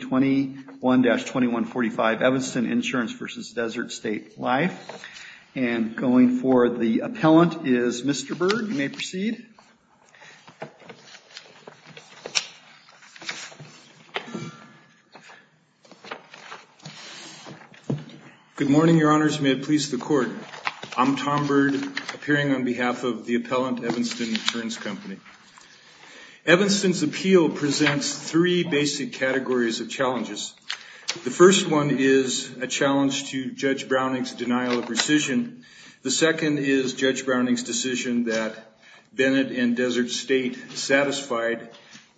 21-2145, Evanston Insurance v. Desert State Life. And going for the appellant is Mr. Byrd. You may proceed. Good morning, Your Honors. May it please the Court. I'm Tom Byrd, appearing on behalf of the appellant, Evanston Insurance Company. Evanston's appeal presents three basic categories of challenges. The first one is a challenge to Judge Browning's denial of rescission. The second is Judge Browning's decision that Bennett and Desert State satisfied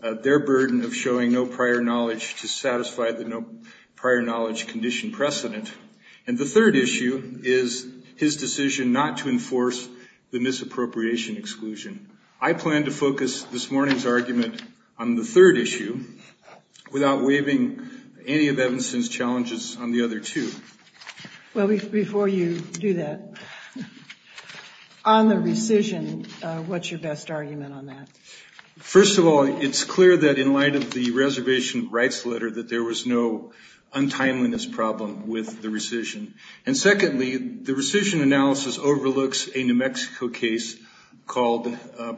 their burden of showing no prior knowledge to satisfy the no prior knowledge condition precedent. And the third issue is his decision not to enforce the misappropriation exclusion. I plan to focus this morning's argument on the third issue, without waiving any of Evanston's challenges on the other two. Well, before you do that, on the rescission, what's your best argument on that? First of all, it's clear that in light of the reservation rights letter that there was no untimeliness problem with the rescission. And secondly, the rescission analysis overlooks a New Mexico case called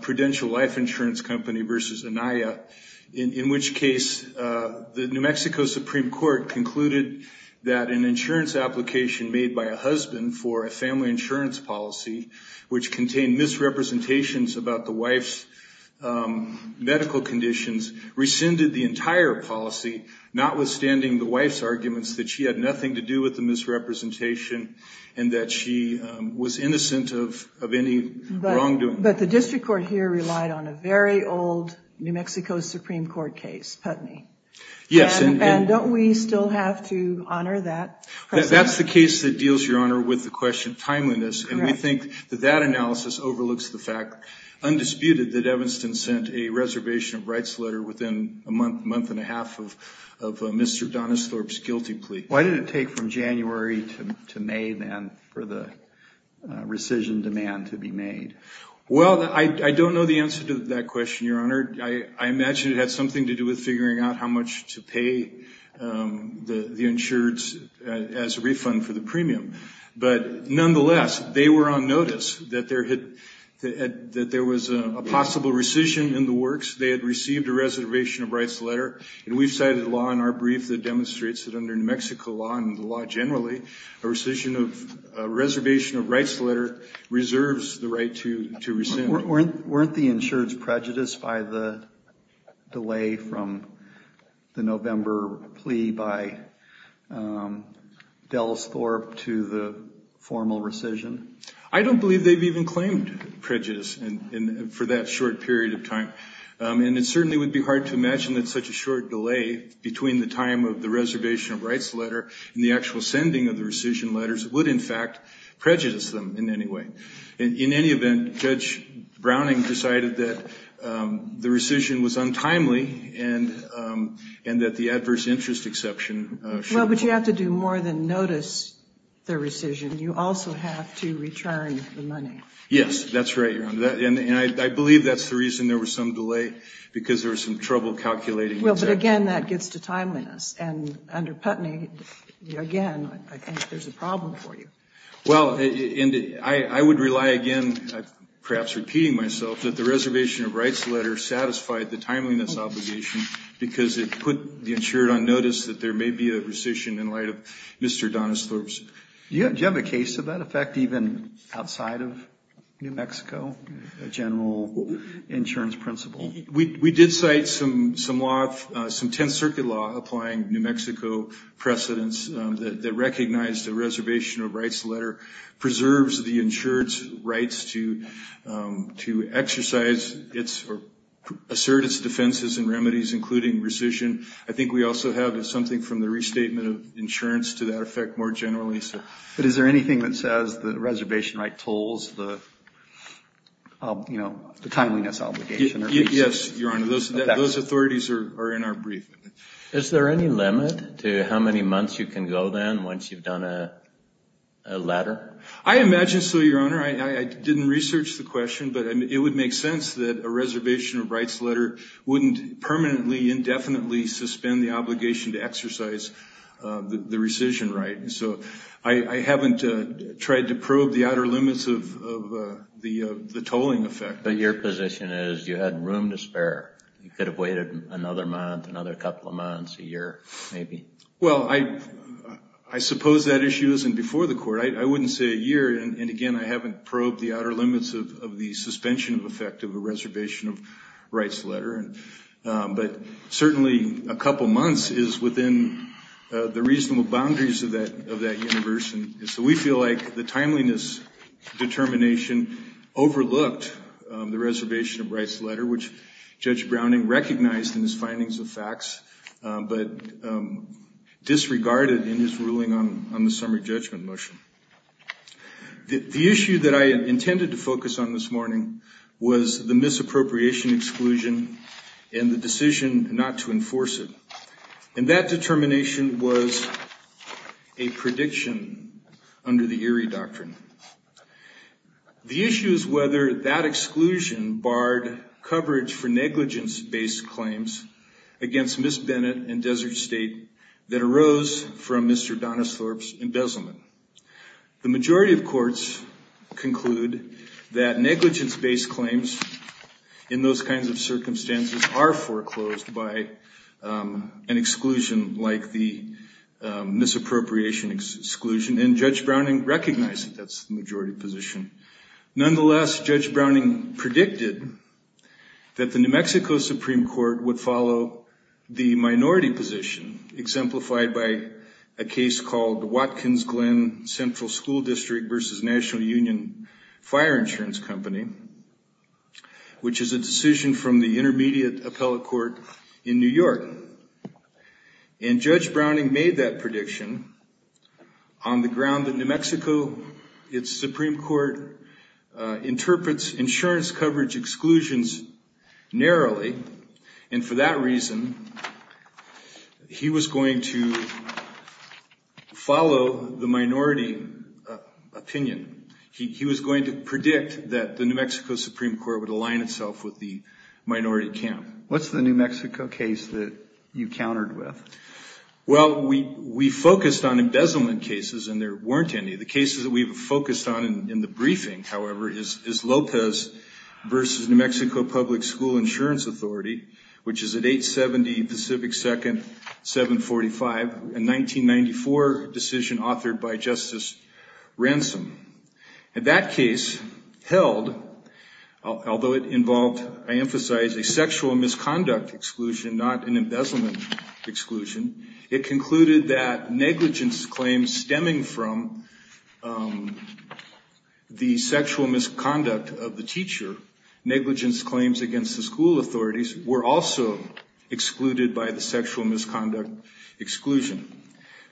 Prudential Life Insurance Company v. Anaya, in which case the New Mexico Supreme Court concluded that an insurance application made by a husband for a family insurance policy, which contained misrepresentations about the wife's medical conditions, rescinded the entire policy, notwithstanding the wife's arguments that she had nothing to do with the misrepresentation and that she was innocent of any wrongdoing. But the district court here relied on a very old New Mexico Supreme Court case, Putney. Yes. And don't we still have to honor that? That's the case that deals, Your Honor, with the question of timeliness. And we think that that analysis overlooks the fact, Why didn't it take from January to May, then, for the rescission demand to be made? Well, I don't know the answer to that question, Your Honor. I imagine it had something to do with figuring out how much to pay the insureds as a refund for the premium. But nonetheless, they were on notice that there was a possible rescission in the works. They had received a reservation of rights letter. And we've cited a law in our brief that demonstrates that under New Mexico law and the law generally, a rescission of a reservation of rights letter reserves the right to rescind. Weren't the insureds prejudiced by the delay from the November plea by Dells Thorpe to the formal rescission? I don't believe they've even claimed prejudice for that short period of time. And it certainly would be hard to imagine that such a short delay between the time of the reservation of rights letter and the actual sending of the rescission letters would, in fact, prejudice them in any way. In any event, Judge Browning decided that the rescission was untimely and that the adverse interest exception should have been... But you have to do more than notice the rescission. You also have to return the money. Yes, that's right, Your Honor. And I believe that's the reason there was some delay, because there was some trouble calculating... Well, but again, that gets to timeliness. And under Putney, again, I think there's a problem for you. Well, and I would rely again, perhaps repeating myself, that the reservation of rights letter satisfied the timeliness obligation because it put the insured on notice that there may be a rescission in light of Mr. Donna Thorpe's... Do you have a case of that effect even outside of New Mexico, a general insurance principle? We did cite some 10th Circuit law applying New Mexico precedence that recognized the reservation of rights letter preserves the insured's rights to exercise or assert its defenses and remedies, including rescission. I think we also have something from the restatement of insurance to that effect more generally. But is there anything that says the reservation right tolls the timeliness obligation? Yes, Your Honor. Those authorities are in our briefing. Is there any limit to how many months you can go then once you've done a letter? I imagine so, Your Honor. I didn't research the question, but it would make sense that a reservation of rights letter wouldn't permanently, indefinitely suspend the obligation to exercise the rescission right. So I haven't tried to probe the outer limits of the tolling effect. But your position is you had room to spare. You could have waited another month, another couple of months, a year, maybe. Well, I suppose that issue isn't before the court. I wouldn't say a year. And again, I haven't probed the outer limits of the suspension of effect of a reservation of rights letter. But certainly a couple months is within the reasonable boundaries of that universe. And so we feel like the timeliness determination overlooked the reservation of rights letter, which Judge Browning recognized in his findings of facts, but disregarded in his ruling on the summary judgment motion. The issue that I intended to focus on this morning was the misappropriation exclusion and the decision not to enforce it. And that determination was a prediction under the Erie Doctrine. The issue is whether that exclusion barred coverage for negligence-based claims against Ms. Bennett and Desert State that arose from Mr. Donisthorpe's embezzlement. The majority of courts conclude that negligence-based claims in those kinds of circumstances are foreclosed by an exclusion like the misappropriation exclusion. And Judge Browning recognized that that's the majority position. Nonetheless, Judge Browning predicted that the New Mexico Supreme Court would follow the minority position exemplified by a case called Watkins Glen Central School District versus National Union Fire Insurance Company, which is a decision from the Intermediate Appellate Court in New York. And Judge Browning made that prediction on the ground that New Mexico, its Supreme Court, interprets insurance coverage exclusions narrowly. And for that reason, he was going to follow the minority opinion. He was going to predict that the New Mexico Supreme Court would align itself with the minority camp. What's the New Mexico case that you countered with? Well, we focused on embezzlement cases, and there weren't any. The cases that we've focused on in the briefing, however, is Lopez versus New Mexico Public School Insurance Authority, which is at 870 Pacific 2nd, 745, a 1994 decision authored by Justice Ransom. And that case held, although it involved, I emphasize, a sexual misconduct exclusion, not an embezzlement exclusion. It concluded that negligence claims stemming from the sexual misconduct of the teacher, negligence claims against the school authorities, were also excluded by the sexual misconduct exclusion.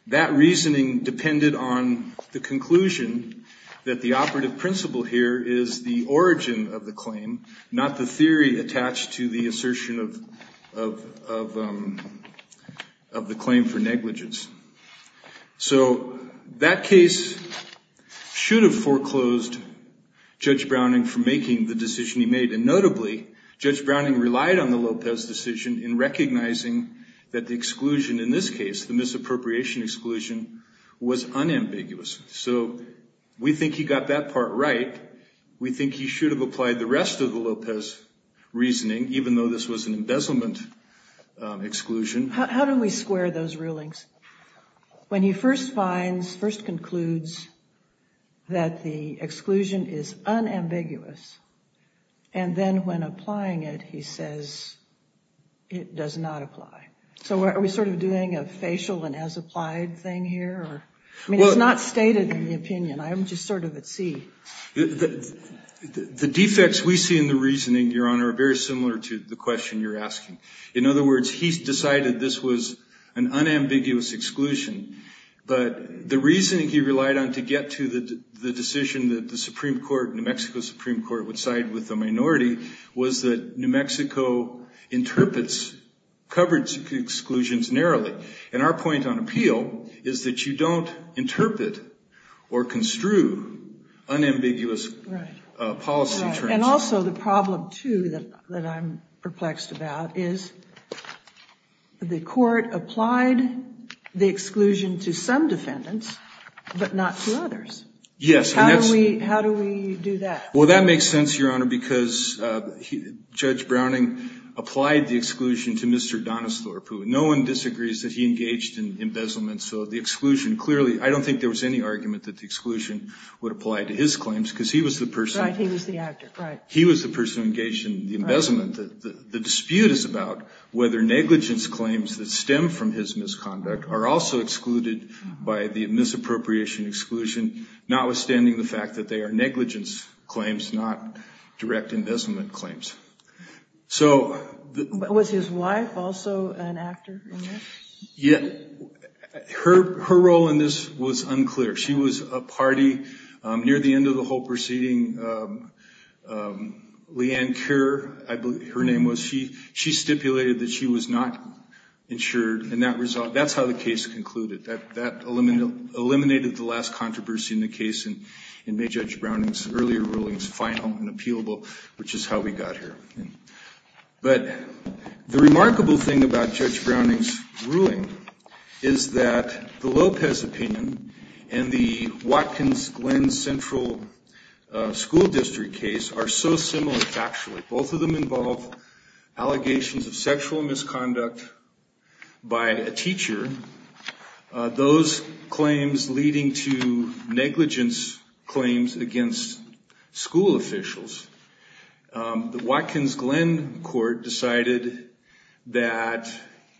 That reasoning depended on the conclusion that the operative principle here is the origin of the claim, not the theory attached to the assertion of the claim for negligence. So that case should have foreclosed Judge Browning from making the decision he made. And notably, Judge Browning relied on the Lopez decision in recognizing that the exclusion in this case, the misappropriation exclusion, was unambiguous. So we think he got that part right. We think he should have applied the rest of the Lopez reasoning, even though this was an embezzlement exclusion. How do we square those rulings? When he first finds, first concludes that the exclusion is unambiguous, and then when applying it, he says it does not apply. So are we sort of doing a facial and as applied thing here? I mean, it's not stated in the opinion. I'm just sort of at sea. The defects we see in the reasoning, Your Honor, are very similar to the question you're asking. In other words, he's decided this was an unambiguous exclusion. But the reasoning he relied on to get to the decision that the Supreme Court, New Mexico Supreme Court, would side with the minority was that New Mexico interprets coverage exclusions narrowly. And our point on appeal is that you don't interpret or construe unambiguous policy. And also the problem, too, that I'm perplexed about is the court applied the exclusion to some defendants, but not to others. Yes. How do we do that? Well, that makes sense, Your Honor, because Judge Browning applied the exclusion to Mr. Donesthorpe. No one disagrees that he engaged in embezzlement. So the exclusion, clearly, I don't think there was any argument that the exclusion would apply to his claims because he was the person. Right, he was the actor, right. He was the person engaged in the embezzlement. The dispute is about whether negligence claims that stem from his misconduct are also excluded by the misappropriation exclusion, notwithstanding the fact that they are negligence claims, not direct embezzlement claims. So. Was his wife also an actor in this? Yeah. Her role in this was unclear. She was a party near the end of the whole proceeding. Leanne Kerr, I believe her name was, she stipulated that she was not insured. And that's how the case concluded. That eliminated the last controversy in the case and made Judge Browning's earlier rulings final and appealable, which is how we got here. But the remarkable thing about Judge Browning's ruling is that the Lopez opinion and the Watkins Glen Central School District case are so similar, actually. Both of them involve allegations of sexual misconduct by a teacher. Those claims leading to negligence claims against school officials. The Watkins Glen court decided that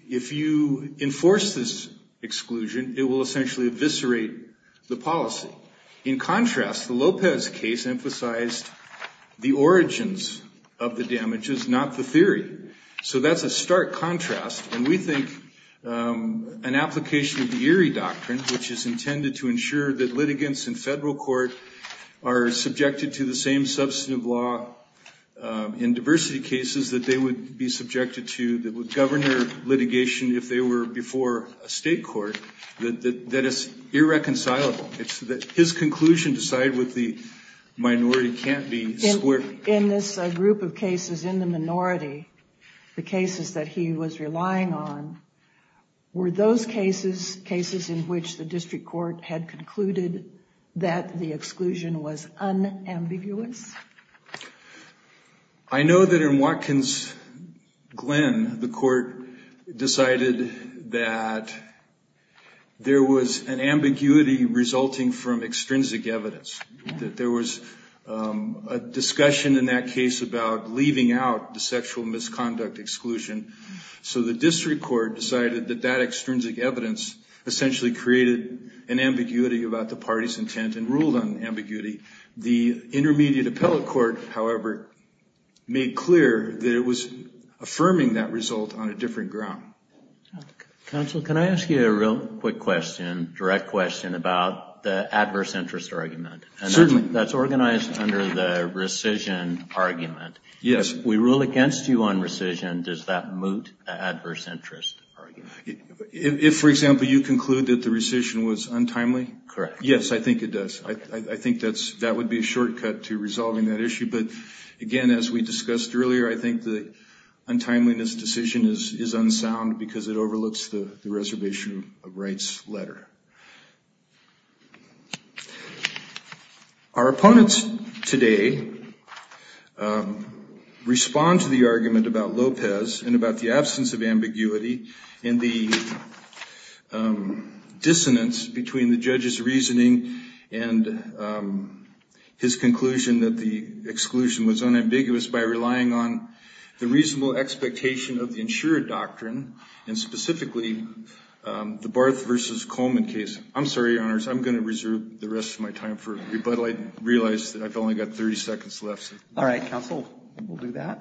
if you enforce this exclusion, it will essentially eviscerate the policy. In contrast, the Lopez case emphasized the origins of the damages, not the theory. So that's a stark contrast. And we think an application of the Erie Doctrine, which is intended to ensure that litigants in federal court are subjected to the same substantive law in diversity cases, that they would be subjected to governor litigation if they were before a state court, that is irreconcilable. His conclusion decided with the minority can't be squared. In this group of cases in the minority, the cases that he was relying on were those cases, cases in which the district court had concluded that the exclusion was unambiguous. I know that in Watkins Glen, the court decided that there was an ambiguity resulting from extrinsic evidence, that there was a discussion in that case about leaving out the sexual misconduct exclusion. So the district court decided that that extrinsic evidence essentially created an ambiguity about the party's intent and ruled on ambiguity. The intermediate appellate court, however, made clear that it was affirming that result on a different ground. Counsel, can I ask you a real quick question, direct question about the adverse interest argument? Certainly. That's organized under the rescission argument. Yes. If we rule against you on rescission, does that moot the adverse interest argument? If, for example, you conclude that the rescission was untimely? Correct. Yes, I think it does. I think that would be a shortcut to resolving that issue. But again, as we discussed earlier, I think the untimeliness decision is unsound because it overlooks the reservation of rights letter. Our opponents today respond to the argument about Lopez and about the absence of ambiguity and the dissonance between the judge's reasoning and his conclusion that the exclusion was unambiguous by relying on the reasonable expectation of the insured doctrine and specifically the Barth v. Coleman case. I'm sorry, Your Honors. I'm going to reserve the rest of my time for rebuttal. I realize that I've only got 30 seconds left. All right, Counsel. We'll do that.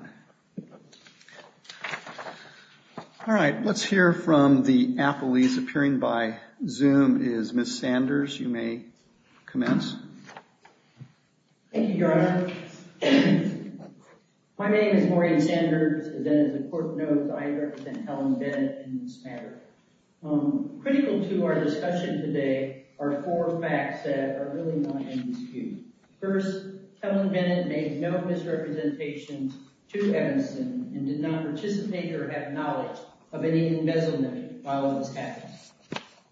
All right. Let's hear from the appellees. Appearing by Zoom is Ms. Sanders. You may commence. Thank you, Your Honor. My name is Maureen Sanders, and as a court note, I represent Helen Bennett in this matter. Critical to our discussion today are four facts that are really not in dispute. First, Helen Bennett made no misrepresentations to Evanston and did not participate or have knowledge of any embezzlement while it was happening.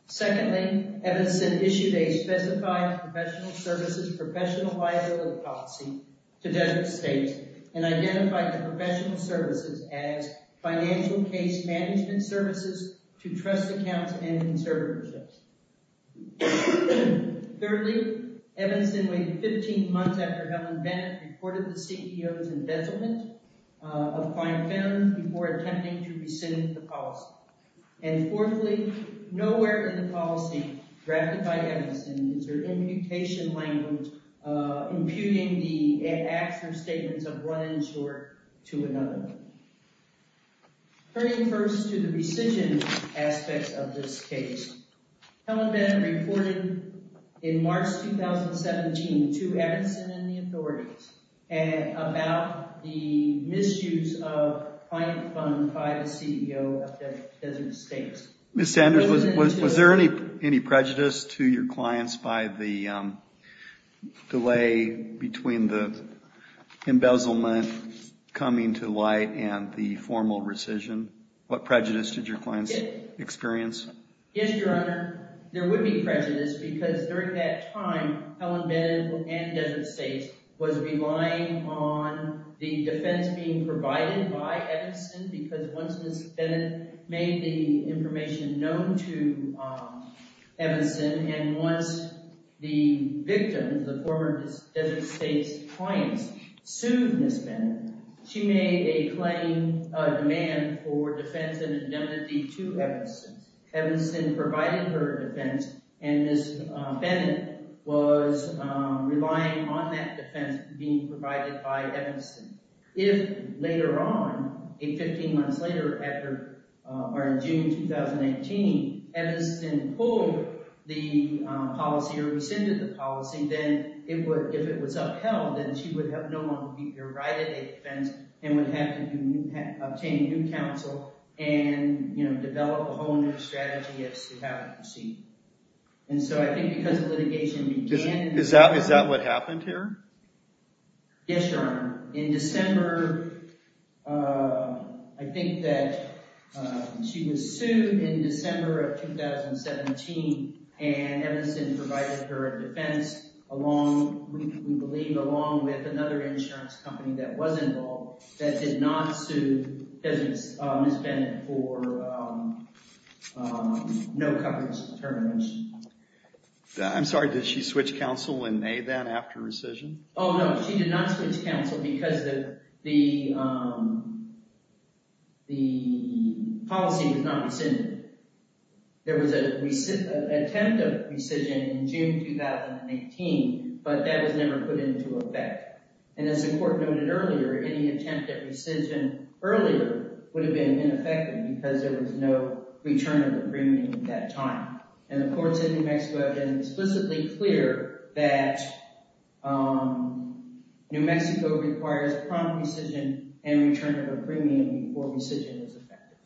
Secondly, Evanston issued a specified professional services professional liability policy to Desert State and identified the professional services as financial case management services to trust accounts and conservatorships. Thirdly, Evanston waited 15 months after Helen Bennett reported the CTO's embezzlement of fine film before attempting to rescind the policy. And fourthly, nowhere in the policy drafted by Evanston is there imputation language imputing the acts or statements of one insurer to another. Turning first to the rescission aspects of this case, Helen Bennett reported in March 2017 to Evanston and the authorities about the misuse of fine film by the CEO of Desert State. Ms. Sanders, was there any prejudice to your clients by the delay between the embezzlement coming to light and the formal rescission? What prejudice did your clients experience? Yes, Your Honor. There would be prejudice because during that time, Helen Bennett and Desert State was relying on the defense being provided by Evanston because once Ms. Bennett made the information known to Evanston and once the victim, the former Desert State's client, sued Ms. Bennett, she made a claim, a demand for defense and indemnity to Evanston. Evanston provided her defense and Ms. Bennett was relying on that defense being provided by Evanston. If later on, 15 months later, or in June 2018, Evanston pulled the policy or rescinded the policy, then if it was upheld, then she would have no longer the right of defense and would have to obtain new counsel and develop a whole new strategy as to how to proceed. And so I think because the litigation began… Is that what happened here? Yes, Your Honor. In December, I think that she was sued in December of 2017 and Evanston provided her a defense along, we believe, along with another insurance company that was involved that did not sue Ms. Bennett for no coverage determination. I'm sorry, did she switch counsel in May then after rescission? Oh no, she did not switch counsel because the policy was not rescinded. There was an attempt at rescission in June 2018, but that was never put into effect. And as the court noted earlier, any attempt at rescission earlier would have been ineffective because there was no return of agreement at that time. And the courts in New Mexico have been explicitly clear that New Mexico requires prompt rescission and return of agreement before rescission is effective.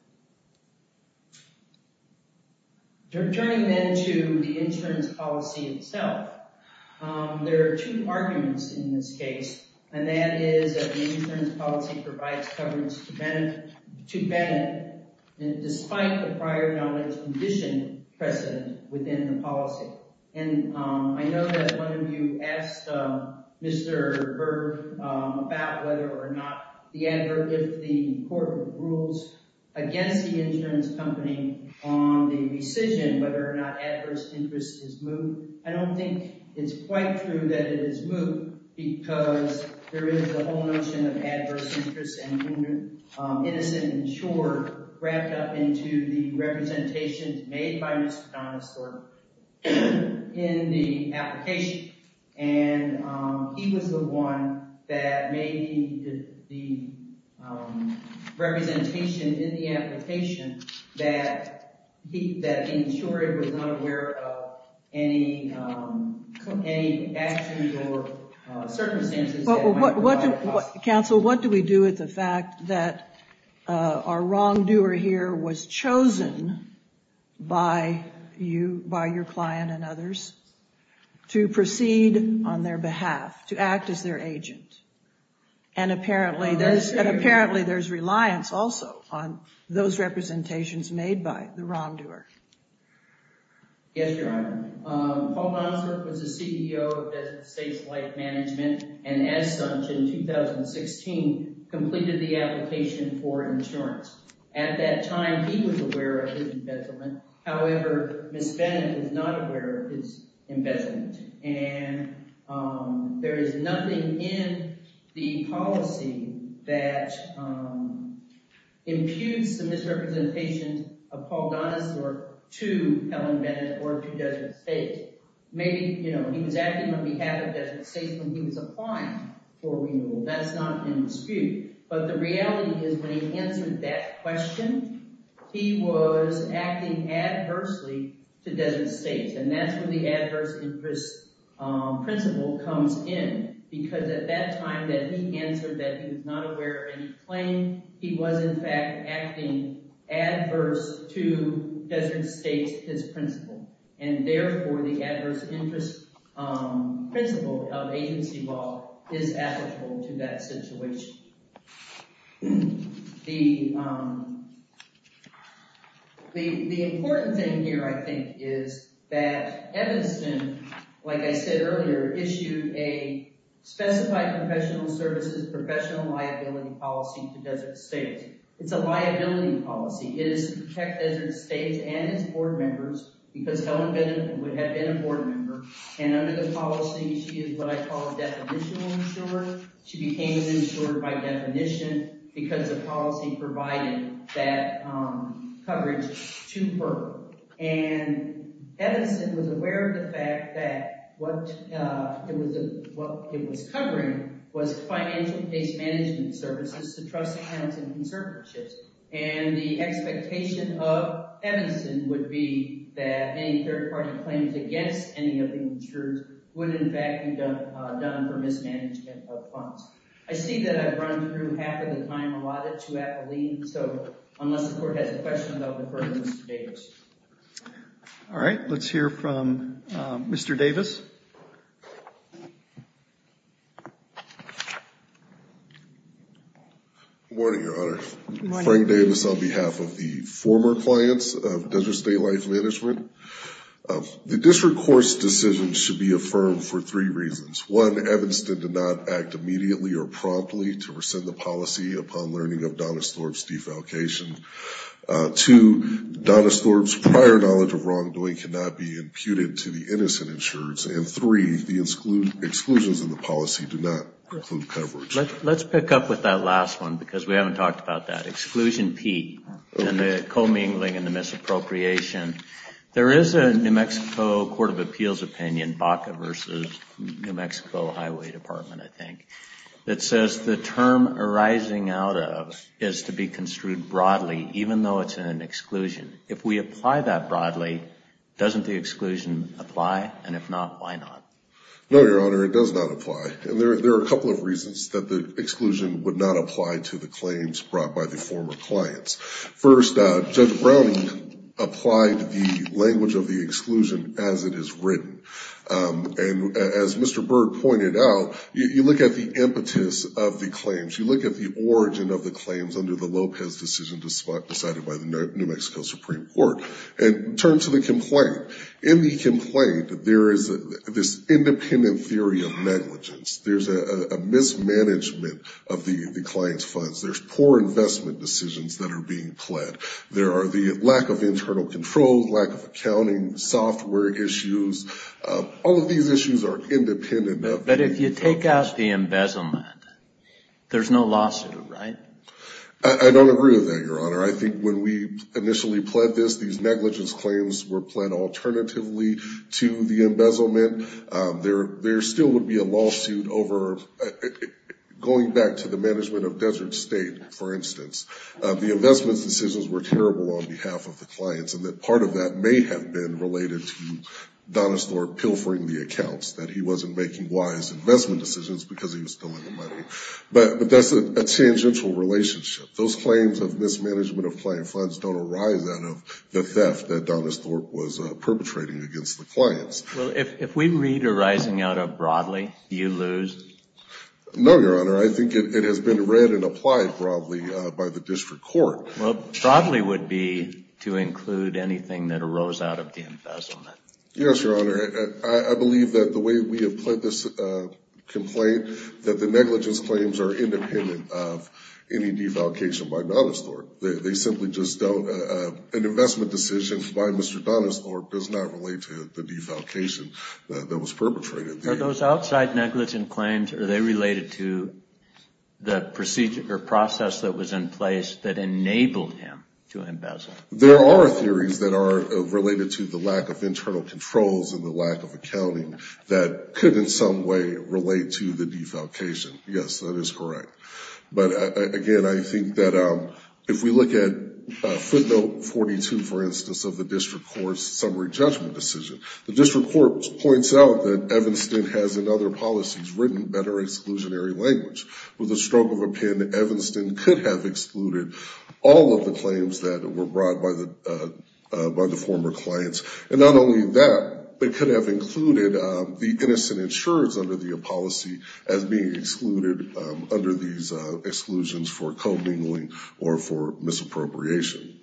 Turning then to the insurance policy itself, there are two arguments in this case, and that is that the insurance policy provides coverage to Bennett despite the prior knowledge condition present within the policy. And I know that one of you asked Mr. Burke about whether or not the advert, if the court rules against the insurance company on the rescission, whether or not adverse interest is moved. In the application, and he was the one that made the representation in the application that he was not aware of any actions or circumstances. Counsel, what do we do with the fact that our wrongdoer here was chosen by your client and others to proceed on their behalf, to act as their agent? And apparently there's reliance also on those representations made by the wrongdoer. Yes, Your Honor. Paul Donisork was the CEO of Bethesda Safe Life Management, and as such, in 2016, completed the application for insurance. At that time, he was aware of his investment. However, Ms. Bennett is not aware of his investment, and there is nothing in the policy that imputes the misrepresentation of Paul Donisork to Helen Bennett or to Desert State. Maybe, you know, he was acting on behalf of Desert State when he was applying for removal. That's not in dispute, but the reality is when he answered that question, he was acting adversely to Desert State. And that's where the adverse interest principle comes in, because at that time that he answered that he was not aware of any claim, he was in fact acting adverse to Desert State's principle. And therefore, the adverse interest principle of agency law is applicable to that situation. The important thing here, I think, is that Evanston, like I said earlier, issued a specified professional services professional liability policy to Desert State. It's a liability policy. It is to protect Desert State and its board members because Helen Bennett would have been a board member, and under the policy, she is what I call a definitional insurer. She became an insurer by definition because the policy provided that coverage to her. And Evanston was aware of the fact that what it was covering was financial case management services to trust accounts and conservatorships. And the expectation of Evanston would be that any third-party claims against any of the insurers would in fact be done for mismanagement of funds. I see that I've run through half of the time allotted to Appellee, so unless the court has a question, I'll defer to Mr. Davis. All right, let's hear from Mr. Davis. Good morning, Your Honor. Good morning. Frank Davis on behalf of the former clients of Desert State Life Management. The district court's decision should be affirmed for three reasons. One, Evanston did not act immediately or promptly to rescind the policy upon learning of Donna Storb's defalcation. Two, Donna Storb's prior knowledge of wrongdoing cannot be imputed to the innocent insurers. And three, the exclusions in the policy do not include coverage. Let's pick up with that last one because we haven't talked about that. Exclusion P and the commingling and the misappropriation. There is a New Mexico Court of Appeals opinion, Baca versus New Mexico Highway Department, I think, that says the term arising out of is to be construed broadly even though it's in an exclusion. If we apply that broadly, doesn't the exclusion apply? And if not, why not? No, Your Honor, it does not apply. And there are a couple of reasons that the exclusion would not apply to the claims brought by the former clients. First, Judge Brown applied the language of the exclusion as it is written. And as Mr. Byrd pointed out, you look at the impetus of the claims, you look at the origin of the claims under the Lopez decision decided by the New Mexico Supreme Court. In terms of the complaint, in the complaint there is this independent theory of negligence. There's a mismanagement of the client's funds. There's poor investment decisions that are being pled. There are the lack of internal control, lack of accounting, software issues. All of these issues are independent of the... But if you take out the embezzlement, there's no lawsuit, right? I don't agree with that, Your Honor. I think when we initially pled this, these negligence claims were pled alternatively to the embezzlement. There still would be a lawsuit over going back to the management of Desert State, for instance. The investment decisions were terrible on behalf of the clients, and that part of that may have been related to Donesthorp pilfering the accounts, that he wasn't making wise investment decisions because he was still in the money. But that's a tangential relationship. Those claims of mismanagement of client funds don't arise out of the theft that Donesthorp was perpetrating against the clients. Well, if we read arising out of broadly, do you lose? No, Your Honor. I think it has been read and applied broadly by the district court. Well, broadly would be to include anything that arose out of the embezzlement. Yes, Your Honor. I believe that the way we have pled this complaint, that the negligence claims are independent of any defalcation by Donesthorp. They simply just don't. An investment decision by Mr. Donesthorp does not relate to the defalcation that was perpetrated. Are those outside negligence claims, are they related to the procedure or process that was in place that enabled him to embezzle? There are theories that are related to the lack of internal controls and the lack of accounting that could in some way relate to the defalcation. Yes, that is correct. But, again, I think that if we look at footnote 42, for instance, of the district court's summary judgment decision, the district court points out that Evanston has in other policies written better exclusionary language. With a stroke of a pen, Evanston could have excluded all of the claims that were brought by the former clients. And not only that, they could have included the innocent insurance under the policy as being excluded under these exclusions for co-mingling or for misappropriation.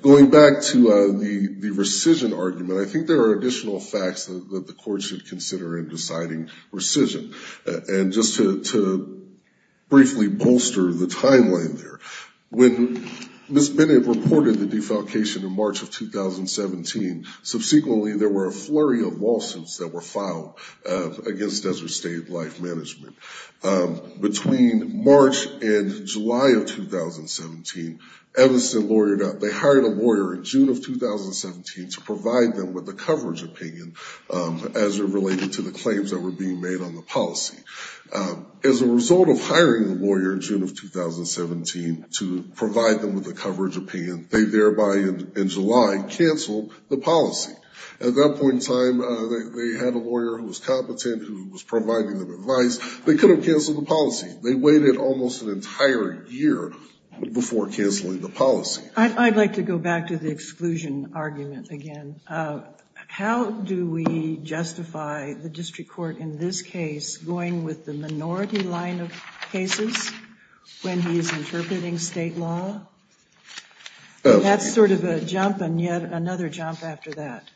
Going back to the rescission argument, I think there are additional facts that the court should consider in deciding rescission. And just to briefly bolster the timeline there, when Ms. Bennett reported the defalcation in March of 2017, subsequently there were a flurry of lawsuits that were filed against Desert State Life Management. Between March and July of 2017, Evanston lawyered out. They hired a lawyer in June of 2017 to provide them with a coverage opinion as it related to the claims that were being made on the policy. As a result of hiring a lawyer in June of 2017 to provide them with a coverage opinion, they thereby in July canceled the policy. At that point in time, they had a lawyer who was competent, who was providing them advice. They could have canceled the policy. They waited almost an entire year before canceling the policy. I'd like to go back to the exclusion argument again. How do we justify the district court in this case going with the minority line of cases when he is interpreting state law? That's sort of a jump and yet another jump after that.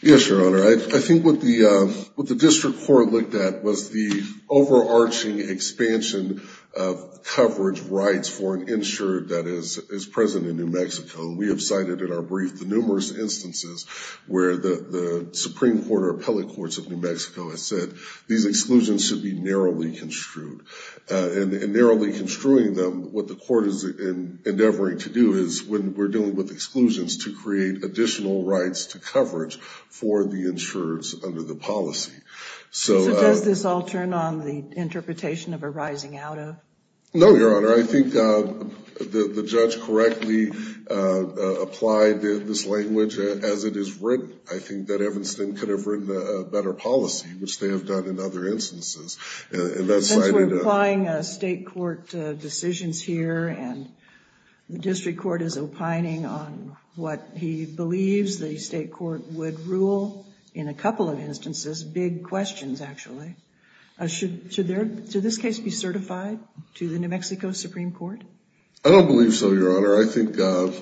Yes, Your Honor. I think what the district court looked at was the overarching expansion of coverage rights for an insured that is present in New Mexico. We have cited in our brief the numerous instances where the Supreme Court or appellate courts of New Mexico have said these exclusions should be narrowly construed. Narrowly construing them, what the court is endeavoring to do is when we're dealing with exclusions to create additional rights to coverage for the insureds under the policy. Does this all turn on the interpretation of a rising out of? No, Your Honor. I think the judge correctly applied this language as it is written. I think that Evanston could have written a better policy, which they have done in other instances. Since we're applying state court decisions here and the district court is opining on what he believes the state court would rule in a couple of instances, big questions actually. Should this case be certified to the New Mexico Supreme Court? I don't believe so, Your Honor. I think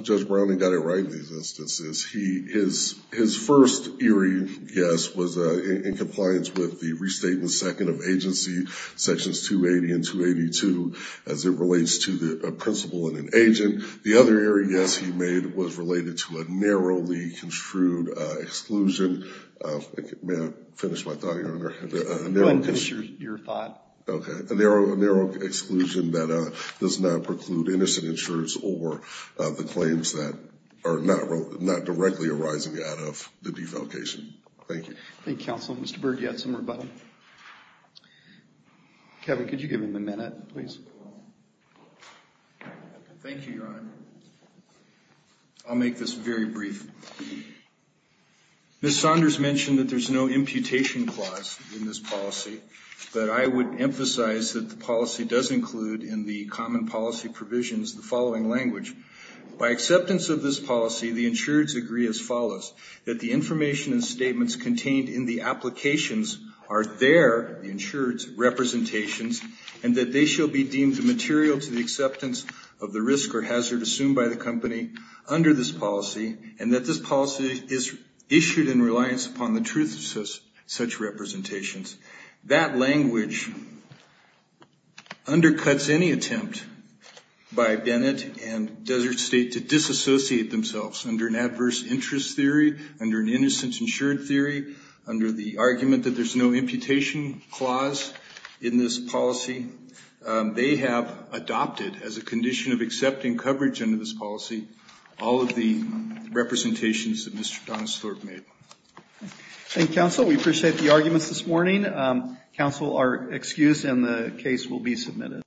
Judge Browning got it right in these instances. His first eerie guess was in compliance with the Restatement Second of Agency Sections 280 and 282 as it relates to a principal and an agent. The other eerie guess he made was related to a narrowly construed exclusion. May I finish my thought, Your Honor? Go ahead and finish your thought. Okay, a narrow exclusion that does not preclude innocent insurers or the claims that are not directly arising out of the defalcation. Thank you. Thank you, counsel. Mr. Berg, you had some more about it? Kevin, could you give him a minute, please? Thank you, Your Honor. I'll make this very brief. Ms. Saunders mentioned that there's no imputation clause in this policy, but I would emphasize that the policy does include in the common policy provisions the following language. By acceptance of this policy, the insureds agree as follows, that the information and statements contained in the applications are their, the insured's, representations, and that they shall be deemed material to the acceptance of the risk or hazard assumed by the company under this policy and that this policy is issued in reliance upon the truth of such representations. That language undercuts any attempt by Bennett and Desert State to disassociate themselves under an adverse interest theory, under an innocent insured theory, under the argument that there's no imputation clause in this policy. They have adopted as a condition of accepting coverage under this policy all of the representations that Mr. Donisler made. Thank you, counsel. We appreciate the arguments this morning. Counsel are excused and the case will be submitted.